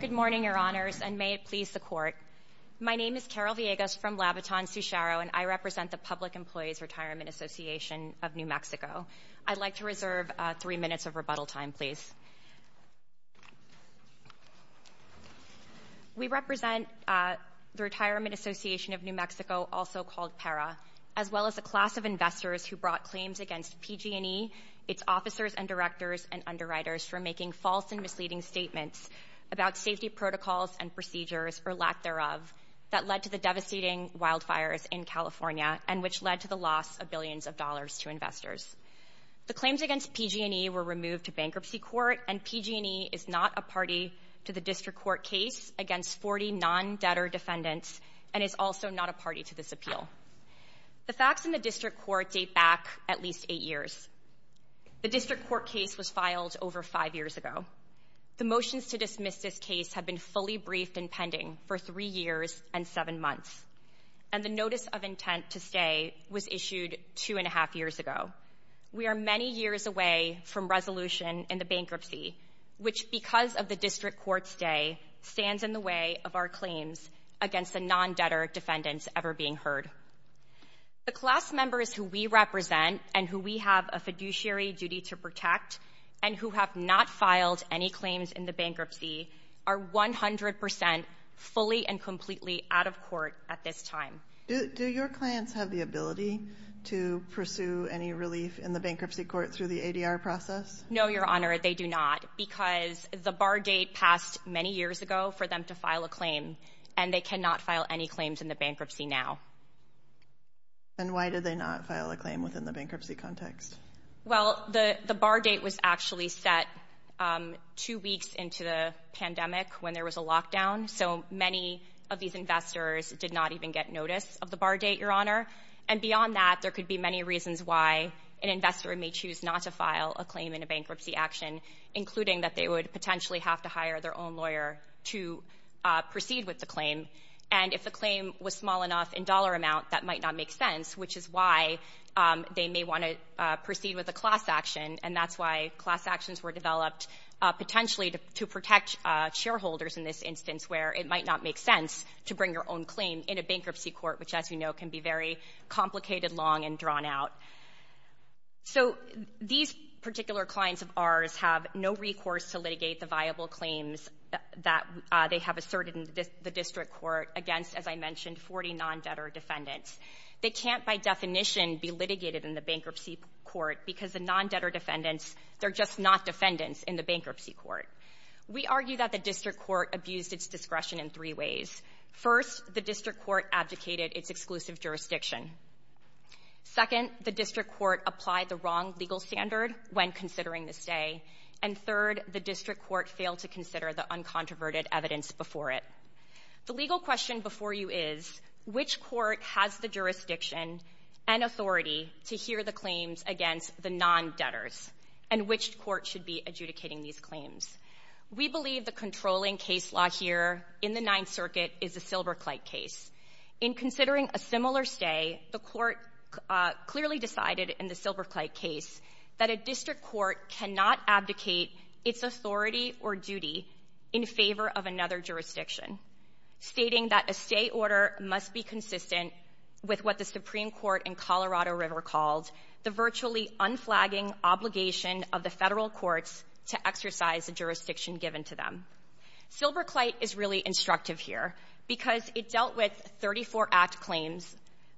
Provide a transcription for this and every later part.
Good morning, Your Honors, and may it please the Court. My name is Carol Villegas from Labiton-Sucharo, and I represent the Public Employees Retirement Association of New Mexico. I'd like to reserve three minutes of rebuttal time, please. We represent the Retirement Association of New Mexico, also called PARA, as well as a class of investors who brought claims against PG&E, its officers and directors, and underwriters for making false and misleading statements about safety protocols and procedures, or lack thereof, that led to the devastating wildfires in California and which led to the loss of billions of dollars to investors. The claims against PG&E were removed to bankruptcy court, and PG&E is not a party to the district court case against 40 non-debtor defendants and is also not a party to this appeal. The facts in the district court date back at least eight years. The district court case was filed over five years ago. The motions to dismiss this case have been fully briefed and pending for three years and seven months, and the notice of intent to stay was issued two and a half years ago. We are many years away from resolution in the bankruptcy, which, because of the district court stay, stands in the way of our claims against the non-debtor defendants ever being heard. The class members who we represent and who we have a fiduciary duty to protect and who have not filed any claims in the bankruptcy are 100 percent fully and completely out of court at this time. Do your clients have the ability to pursue any relief in the bankruptcy court through the ADR process? No, Your Honor, they do not, because the bar date passed many years ago for them to file a claim, and they cannot file any claims in the bankruptcy now. And why did they not file a claim within the bankruptcy context? Well, the bar date was actually set two weeks into the pandemic when there was a lockdown, so many of these investors did not even get notice of the bar date, Your Honor. And beyond that, there could be many reasons why an investor may choose not to file a claim in a bankruptcy action, including that they would potentially have to hire their own lawyer to proceed with the claim. And if the claim was small enough in dollar amount, that might not make sense, which is why they may want to proceed with a class action. And that's why class actions were developed potentially to protect shareholders in this instance where it might not make sense to bring your own claim in a bankruptcy court, which, as you know, can be very complicated, long, and drawn out. So these particular clients of ours have no recourse to litigate the viable claims that they have asserted in the district court against, as I mentioned, 40 non-debtor defendants. They can't by definition be litigated in the bankruptcy court because the non-debtor defendants, they're just not defendants in the bankruptcy court. We argue that the district court abused its discretion in three ways. First, the district court abdicated its exclusive jurisdiction. Second, the district court applied the wrong legal standard when considering the stay. And third, the district court failed to consider the uncontroverted evidence before it. The legal question before you is, which court has the jurisdiction and authority to hear the claims against the non-debtors, and which court should be adjudicating these claims? We believe the controlling case law here in the Ninth Circuit is the Silberkleit case. In considering a similar stay, the court clearly decided in the Silberkleit case that a district court cannot abdicate its authority or duty in favor of another jurisdiction, stating that a stay order must be consistent with what the Supreme Court in Colorado River called the virtually unflagging obligation of the Federal courts to exercise the jurisdiction given to them. Silberkleit is really instructive here, because it dealt with 34 Act claims,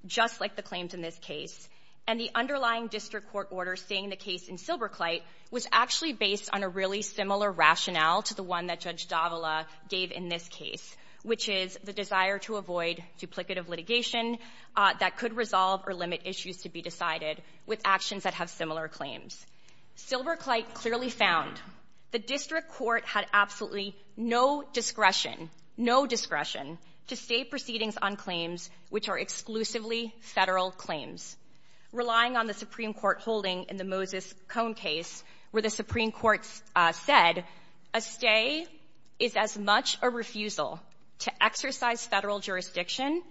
just like the claims in this case, and the underlying district court order saying the case in Silberkleit was actually based on a really similar rationale to the one that Judge Davila gave in this case, which is the desire to avoid duplicative litigation that could resolve or limit issues to be decided with actions that have similar claims. Silberkleit clearly found the district court had absolutely no discretion, no discretion, to stay proceedings on claims which are exclusively Federal claims. Relying on the Supreme Court holding in the Moses Cone case where the Supreme Court said a stay is as much a refusal to exercise Federal jurisdiction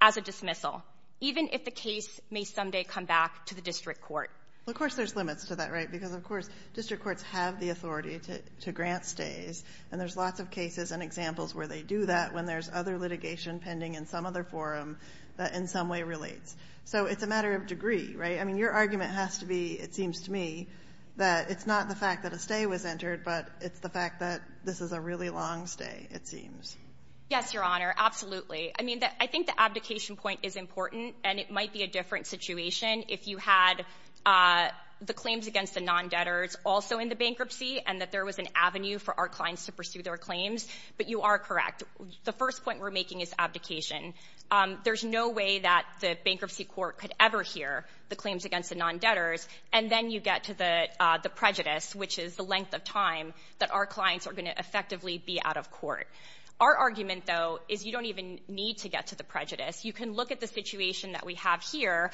as a dismissal, even if the case may someday come back to the district court. Well, of course, there's limits to that, right? Because, of course, district courts have the authority to grant stays, and there's lots of cases and examples where they do that when there's other litigation pending in some other forum that in some way relates. So it's a matter of degree, right? I mean, your argument has to be, it seems to me, that it's not the fact that a stay was entered, but it's the fact that this is a really long stay, it seems. Yes, Your Honor, absolutely. I mean, I think the abdication point is important, and it might be a different situation if you had the claims against the non-debtors also in the bankruptcy and that there was an avenue for our clients to pursue their claims. But you are correct. The first point we're making is abdication. There's no way that the bankruptcy court could ever hear the claims against the non-debtors, and then you get to the prejudice, which is the length of time that our clients are going to effectively be out of court. Our argument, though, is you don't even need to get to the prejudice. You can look at the situation that we have here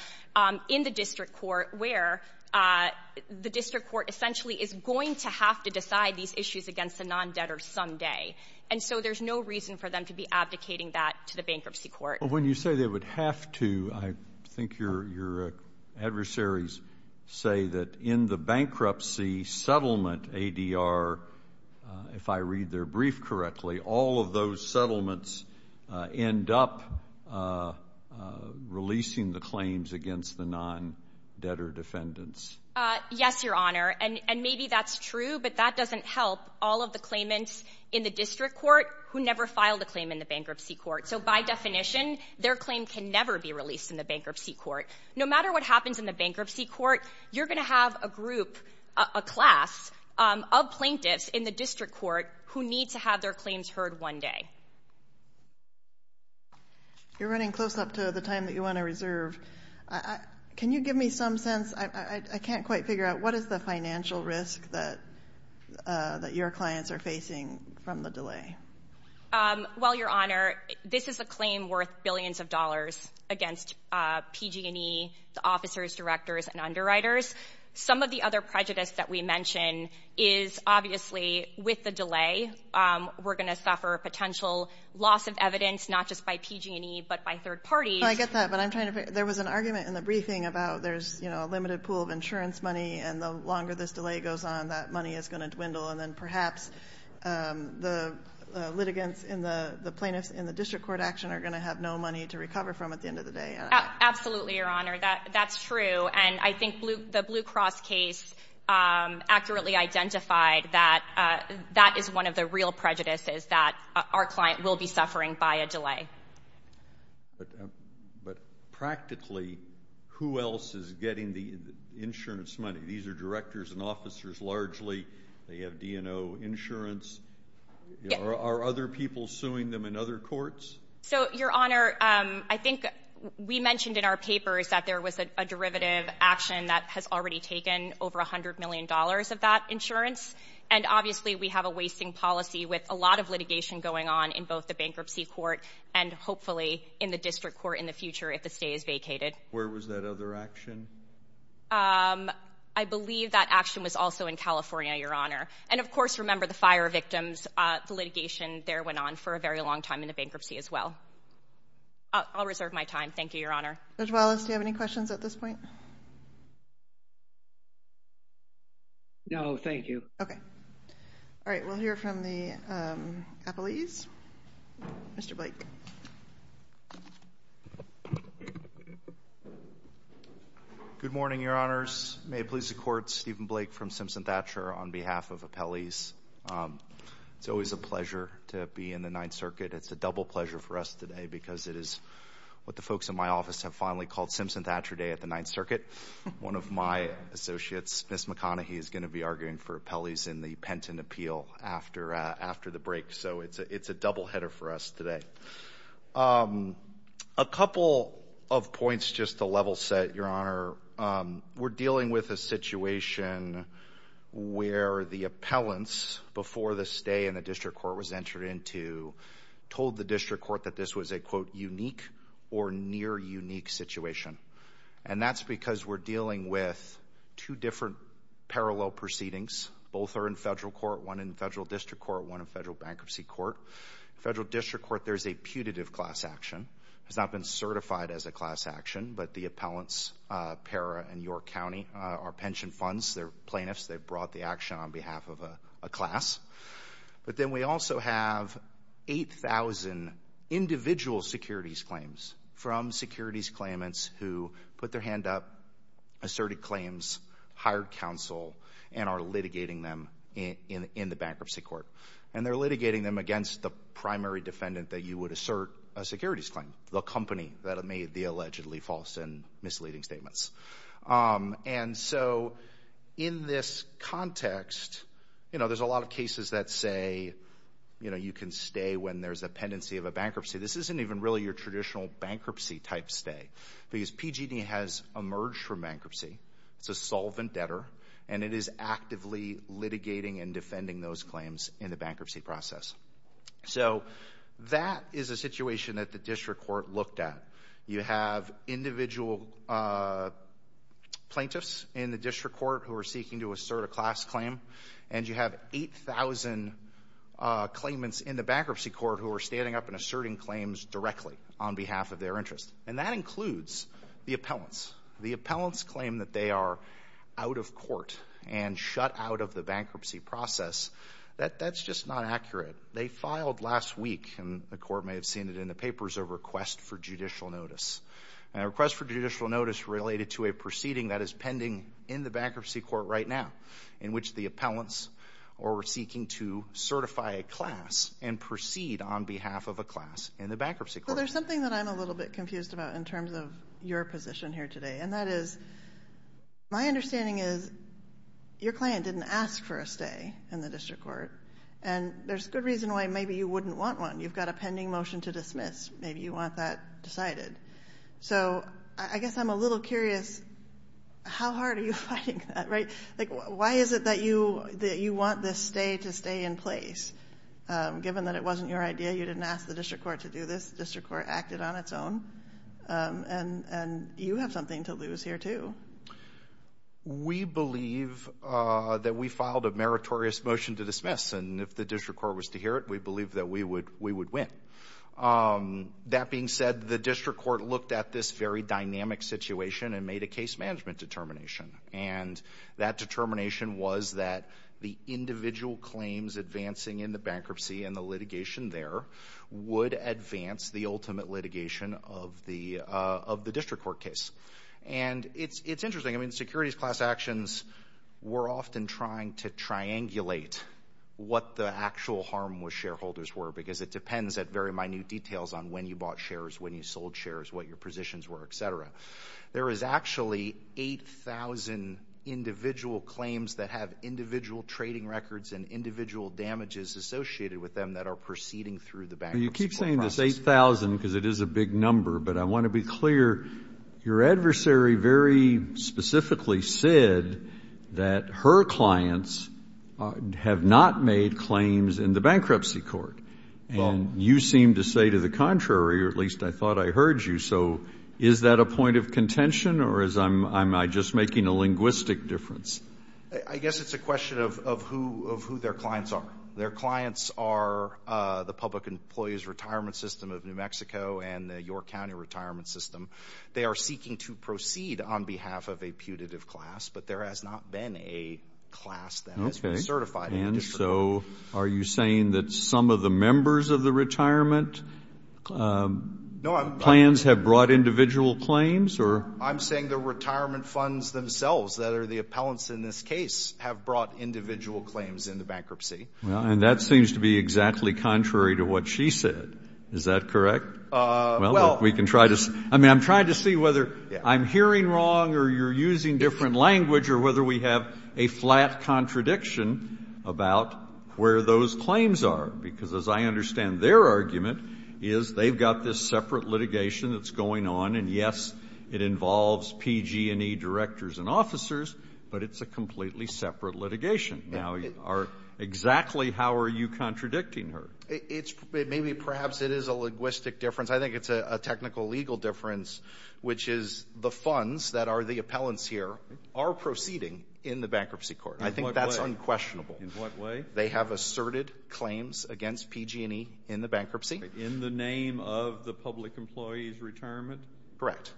in the district court where the district court essentially is going to have to decide these issues against the non-debtors someday. And so there's no reason for them to be abdicating that to the bankruptcy court. But when you say they would have to, I think your adversaries say that in the bankruptcy court, the settlement ADR, if I read their brief correctly, all of those settlements end up releasing the claims against the non-debtor defendants. Yes, Your Honor, and maybe that's true, but that doesn't help all of the claimants in the district court who never filed a claim in the bankruptcy court. So by definition, their claim can never be released in the bankruptcy court. No matter what happens in the bankruptcy court, you're going to have a group, a class of plaintiffs in the district court who need to have their claims heard one day. You're running close up to the time that you want to reserve. Can you give me some sense, I can't quite figure out, what is the financial risk that your clients are facing from the delay? Well, Your Honor, this is a claim worth billions of dollars against PG&E, the officers, directors, and underwriters. Some of the other prejudice that we mention is, obviously, with the delay, we're going to suffer potential loss of evidence, not just by PG&E, but by third parties. I get that, but I'm trying to figure — there was an argument in the briefing about there's, you know, a limited pool of insurance money, and the longer this delay goes on, that money is going to dwindle, and then perhaps the litigants and the plaintiffs in the district court action are going to have no money to recover from at the end of the day. Absolutely, Your Honor, that's true. And I think the Blue Cross case accurately identified that that is one of the real prejudices that our client will be suffering by a delay. But practically, who else is getting the insurance money? These are directors and officers, largely. They have D&O insurance. Are other people suing them in other courts? So, Your Honor, I think we mentioned in our papers that there was a derivative action that has already taken over $100 million of that insurance, and obviously we have a wasting policy with a lot of litigation going on in both the bankruptcy court and, hopefully, in the district court in the future if the stay is vacated. Where was that other action? I believe that action was also in California, Your Honor. And, of course, remember the fire victims. The litigation there went on for a very long time in the bankruptcy as well. I'll reserve my time. Thank you, Your Honor. Judge Wallace, do you have any questions at this point? No, thank you. Okay. All right. We'll hear from the appellees. Mr. Blake. Good morning, Your Honors. May it please the Court, Stephen Blake from Simpson-Thatcher on behalf of appellees. It's always a pleasure to be in the Ninth Circuit. It's a double pleasure for us today because it is what the folks in my office have finally called Simpson-Thatcher Day at the Ninth Circuit. One of my associates, Ms. McConaughey, is going to be arguing for appellees in the Penton appeal after the break. So it's a doubleheader for us today. A couple of points just to level-set, Your Honor. We're dealing with a situation where the appellants, before the stay in the district court was entered into, told the district court that this was a, quote, unique or near-unique situation. And that's because we're dealing with two different parallel proceedings. Both are in federal court, one in federal district court, one in federal bankruptcy court. In federal district court, there's a putative class action. It's not been certified as a class action, but the appellants, Parra and York County, are pension funds. They're plaintiffs. They brought the action on behalf of a class. But then we also have 8,000 individual securities claims from securities claimants who put their hand up, asserted claims, hired counsel, and are litigating them in the bankruptcy court. And they're litigating them against the primary defendant that you would assert a securities claim, the company that made the allegedly false and misleading statements. And so, in this context, you know, there's a lot of cases that say, you know, you can stay when there's a pendency of a bankruptcy. This isn't even really your traditional bankruptcy-type stay because PG&E has emerged from bankruptcy. It's a solvent debtor, and it is actively litigating and defending those claims in the bankruptcy process. So that is a situation that the district court looked at. You have individual plaintiffs in the district court who are seeking to assert a class claim, and you have 8,000 claimants in the bankruptcy court who are standing up and asserting claims directly on behalf of their interest. And that includes the appellants. The appellants claim that they are out of court and shut out of the bankruptcy process. That's just not accurate. They filed last week, and the court may have seen it in the papers, a request for judicial notice. And a request for judicial notice related to a proceeding that is pending in the bankruptcy court right now in which the appellants are seeking to certify a class and proceed on behalf of a class in the bankruptcy court. There's something that I'm a little bit confused about in terms of your position here today, and that is, my understanding is your client didn't ask for a stay in the district court, and there's good reason why maybe you wouldn't want one. You've got a pending motion to dismiss. Maybe you want that decided. So I guess I'm a little curious, how hard are you fighting that, right? Like, why is it that you want this stay to stay in place given that it wasn't your idea? You didn't ask the district court to do this. The district court acted on its own. And you have something to lose here, too. We believe that we filed a meritorious motion to dismiss. And if the district court was to hear it, we believe that we would win. That being said, the district court looked at this very dynamic situation and made a case management determination. And that determination was that the individual claims advancing in the bankruptcy and the litigation there would advance the ultimate litigation of the district court case. And it's interesting. I mean, securities class actions were often trying to triangulate what the actual harm with shareholders were because it depends at very minute details on when you bought shares, when you sold shares, what your positions were, et cetera. There is actually 8,000 individual claims that have individual trading records and individual damages associated with them that are proceeding through the bankruptcy process. Well, you keep saying this 8,000 because it is a big number, but I want to be clear. Your adversary very specifically said that her clients have not made claims in the bankruptcy court. And you seem to say to the contrary, or at least I thought I heard you. So is that a point of contention or am I just making a linguistic difference? I guess it's a question of who their clients are. Their clients are the Public Employees Retirement System of New Mexico and the York County Retirement System. They are seeking to proceed on behalf of a putative class, but there has not been a class that has been certified in the district. And so are you saying that some of the members of the retirement plans have brought individual claims? I'm saying the retirement funds themselves that are the appellants in this case have brought individual claims in the bankruptcy. And that seems to be exactly contrary to what she said. Is that correct? I'm trying to see whether I'm hearing wrong or you're using different language or whether we have a flat contradiction about where those claims are. Because as I understand their argument is they've got this separate litigation that's going on and yes, it involves PG&E directors and officers, but it's a completely separate litigation. Now, exactly how are you contradicting her? Maybe perhaps it is a linguistic difference. I think it's a technical legal difference, which is the funds that are the appellants here are proceeding in the bankruptcy court. I think that's unquestionable. In what way? They have asserted claims against PG&E in the bankruptcy. In the name of the public employees' retirement? Correct.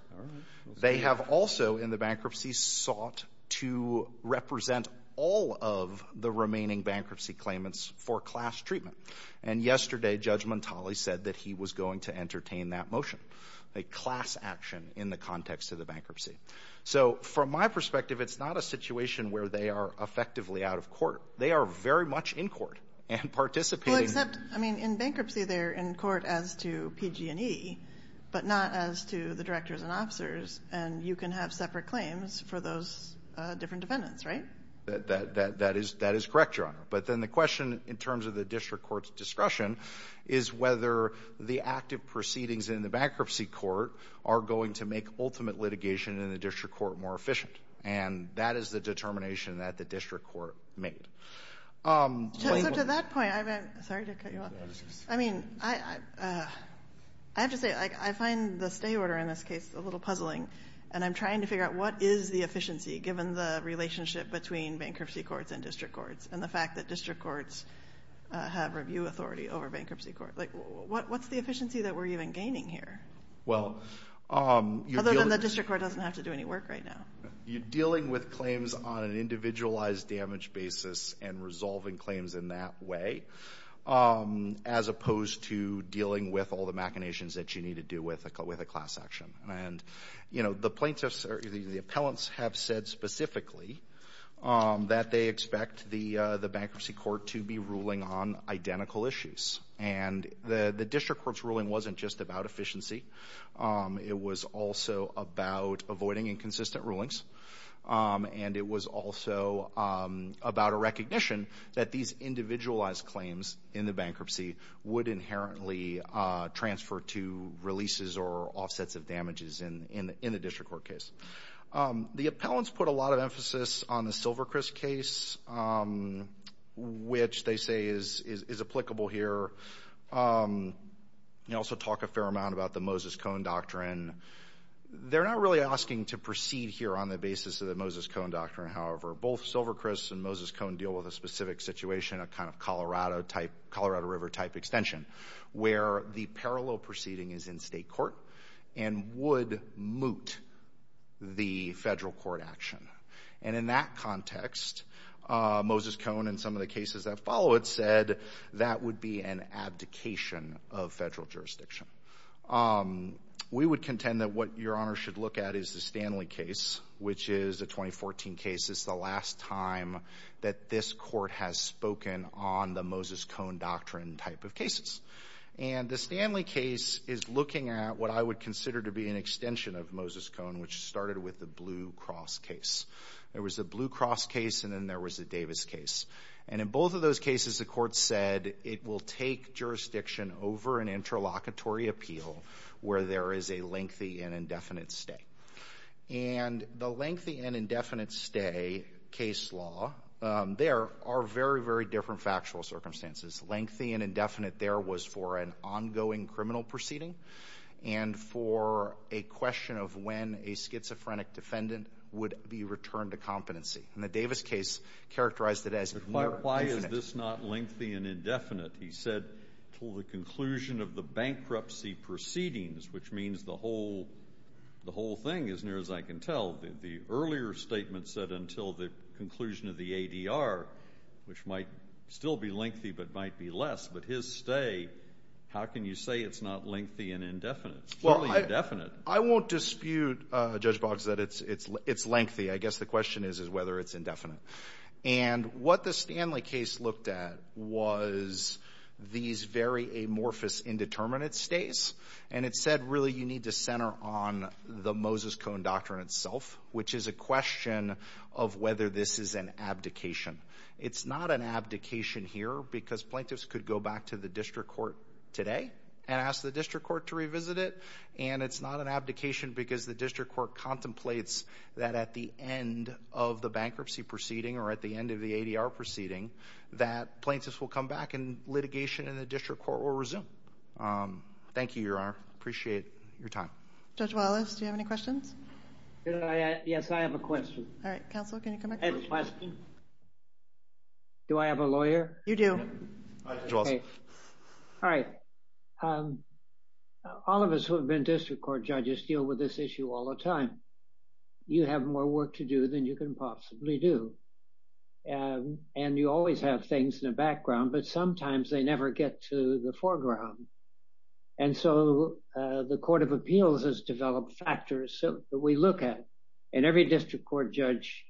They have also in the bankruptcy sought to represent all of the remaining bankruptcy claimants for class treatment. And yesterday Judge Montali said that he was going to entertain that motion. A class action in the context of the bankruptcy. So from my perspective it's not a situation where they are effectively out of court. They are very much in court and participating. Except in bankruptcy they're in court as to PG&E but not as to the directors and officers. And you can have separate claims for those different defendants, right? That is correct, Your Honor. But then the question in terms of the district court's discussion is whether the active proceedings in the bankruptcy court are going to make ultimate litigation in the district court more efficient. And that is the determination that the district court made. It's up to that point. Sorry to cut you off. I mean I have to say I find the stay order in this case a little puzzling and I'm trying to figure out what is the efficiency given the relationship between bankruptcy courts and district courts and the fact that district courts have review authority over bankruptcy courts. What's the efficiency that we're even gaining here? Other than the district court doesn't have to do any work right now. You're dealing with claims on an individualized damage basis and resolving claims in that way as opposed to dealing with all the machinations that you need to do with a class action. And, you know, the plaintiffs or the appellants have said specifically that they expect the bankruptcy court to be ruling on identical issues. And the district court's ruling wasn't just about efficiency. It was also about avoiding inconsistent rulings and it was also about a recognition that these individualized claims in the bankruptcy would inherently transfer to releases or offsets of damages in the district court case. The appellants put a lot of emphasis on the Silvercrest case which they say is applicable here. They also talk a fair amount about the Moses-Cohen doctrine. They're not really asking to proceed here on the basis of the Moses-Cohen doctrine, however. Both Silvercrest and Moses-Cohen deal with a specific situation, a kind of Colorado type Colorado River type extension where the parallel proceeding is in state court and would moot the federal court action. And in that context Moses-Cohen and some of the cases that follow it said that would be an abdication of federal jurisdiction. We would contend that what Your Honor should look at is the Stanley case which is a 2014 case. It's the last time that this court has spoken on the Moses-Cohen doctrine type of cases. And the Stanley case is looking at what I would consider to be an extension of Moses-Cohen which started with the Blue Cross case. There was a Blue Cross case and then there was a Davis case. And in both of those cases the court said it will take jurisdiction over an interlocutory appeal where there is a lengthy and indefinite stay. And the lengthy and indefinite stay case law, there are very, very different factual circumstances. Lengthy and indefinite there was for an ongoing criminal proceeding and for a question of when a schizophrenic defendant would be returned to competency. And the Davis case characterized it as more infinite. Why is this not lengthy and indefinite? He said to the conclusion of the bankruptcy proceedings which means the whole thing as near as I can tell, the earlier statement said until the conclusion of the ADR, which might still be lengthy but might be less. But his stay, how can you say it's not lengthy and indefinite? It's totally indefinite. I won't dispute, Judge Boggs, that it's lengthy. I guess the question is whether it's indefinite. And what the Stanley case looked at was these very amorphous indeterminate stays. And it said really you need to center on the Moses Cone Doctrine itself, which is a question of whether this is an abdication. It's not an abdication here because plaintiffs could go back to the district court today and ask the district court to revisit it. And it's not an abdication because the district court contemplates that at the end of ADR proceeding, that plaintiffs will come back and litigation in the district court. Thank you, Your Honor. Appreciate your time. Judge Wallace, do you have any questions? Yes, I have a question. All right. Counsel, can you come back? I have a question. Do I have a lawyer? You do. All right. All of us who have been district court judges deal with this issue all the time. You have more work to do than you can possibly do. And you always have things in the And so the Court of Appeals has developed factors that we look at. And every district court judge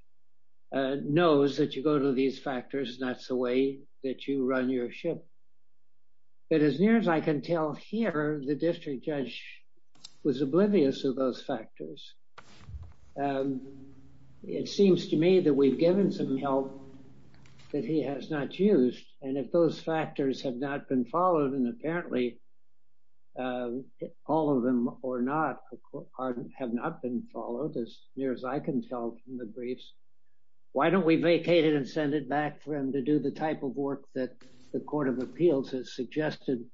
knows that you go to these factors and that's the way that you run your ship. But as near as I can tell here, the district judge was oblivious to those factors. It seems to me that we've given some help that he has not used. And if those factors have not been followed, and apparently all of them have not been followed, as near as I can tell from the briefs, why don't we vacate it and send it back for him to do the type of work that the Court of Appeals has suggested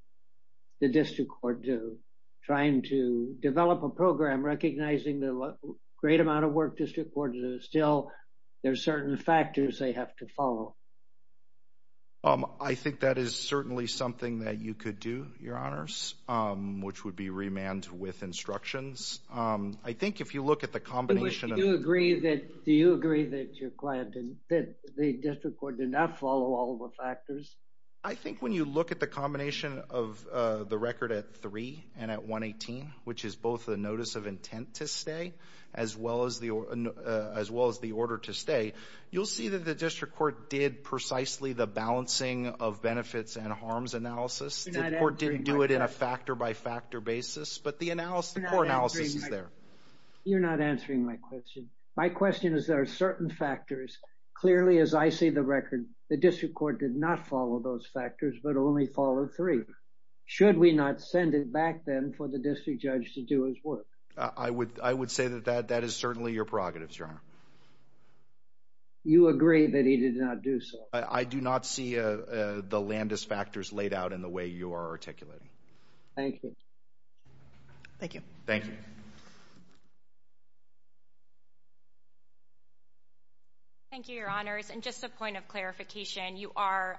the district court do? Trying to develop a program recognizing the great amount of work district court judges still there are certain factors they have to follow. I think that is certainly something that you could do, Your Honors, which would be remand with instructions. I think if you look at the combination Do you agree that the district court did not follow all of the factors? I think when you look at the combination of the record at 3 and at 118, which is both the notice of intent to stay as well as the order to stay, you'll see that the district court did precisely the balancing of benefits and harms analysis. The court didn't do it in a factor-by-factor basis but the analysis, the core analysis is there. You're not answering my question. My question is there are certain factors clearly as I see the record the district court did not follow those factors but only followed 3. Should we not send it work? I would say that that is certainly your prerogatives, Your Honor. You agree that he did not do so? I do not see the Landis factors laid out in the way you are articulating. Thank you. Thank you. Thank you, Your Honors. And just a point of clarification, you are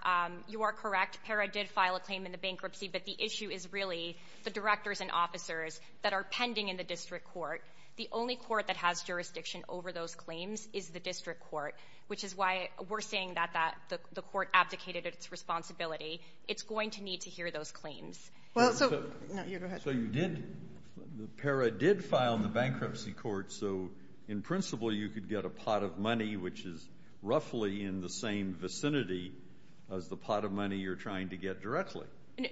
correct. PARA did file a claim in the bankruptcy but the issue is really the directors and officers that are pending in the district court. The only court that has jurisdiction over those claims is the district court which is why we're saying that the court abdicated its responsibility. It's going to need to hear those claims. So you did PARA did file in the bankruptcy court so in principle you could get a pot of money which is roughly in the same vicinity as the pot of money you're trying to get directly.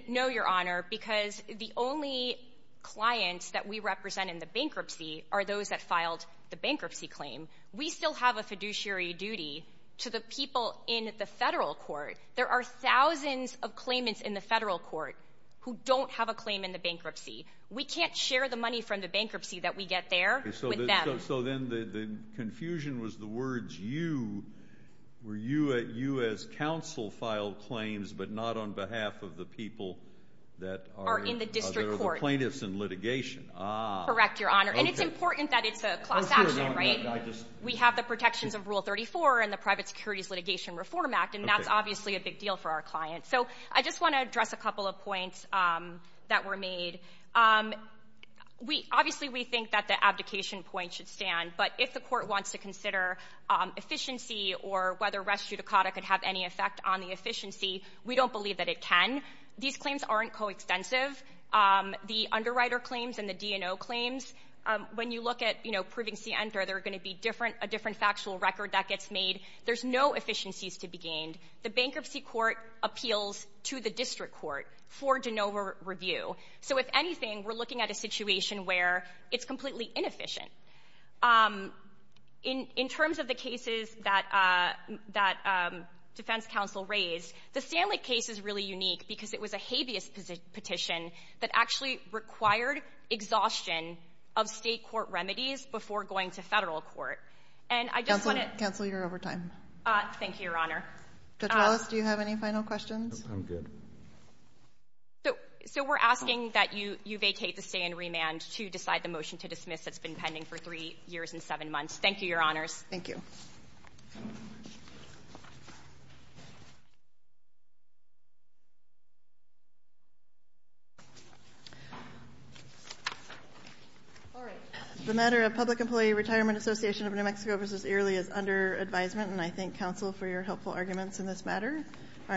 No, Your Honor, because the only clients that we represent in the bankruptcy are those that filed the bankruptcy claim. We still have a fiduciary duty to the people in the federal court. There are thousands of claimants in the federal court who don't have a claim in the bankruptcy. We can't share the money from the bankruptcy that we get there with them. So then the confusion was the words you were you at U.S. Council filed claims but not on behalf of the people that are in the district court. Plaintiffs and litigation. Correct, Your Honor. And it's important that it's a class action, right? We have the protections of Rule 34 and the private securities litigation reform act and that's obviously a big deal for our clients. So I just want to address a couple of points that were made. Obviously we think that the abdication point should stand but if the court wants to consider efficiency or whether res judicata could have any effect on the efficiency, we don't believe that it can. These claims aren't co-extensive. The underwriter claims and the D&O claims when you look at, you know, proving C enter, they're going to be different, a different factual record that gets made. There's no efficiencies to be gained. The bankruptcy court appeals to the district court for de novo review. So if anything, we're looking at a situation where it's completely inefficient. In terms of the cases that defense counsel raised, the Stanley case is really unique because it was a habeas petition that actually required exhaustion of State court remedies before going to Federal court. And I just want to Counsel, you're over time. Thank you, Your Honor. Judge Wallace, do you have any final questions? I'm good. So we're asking that you vacate the stay in remand to decide the motion to dismiss that's been pending for three years and seven months. Thank you, Your Honors. Thank you. Thank you. All right. The matter of public employee retirement association of New Mexico versus Earley is under advisement, and I thank counsel for your helpful arguments in this matter.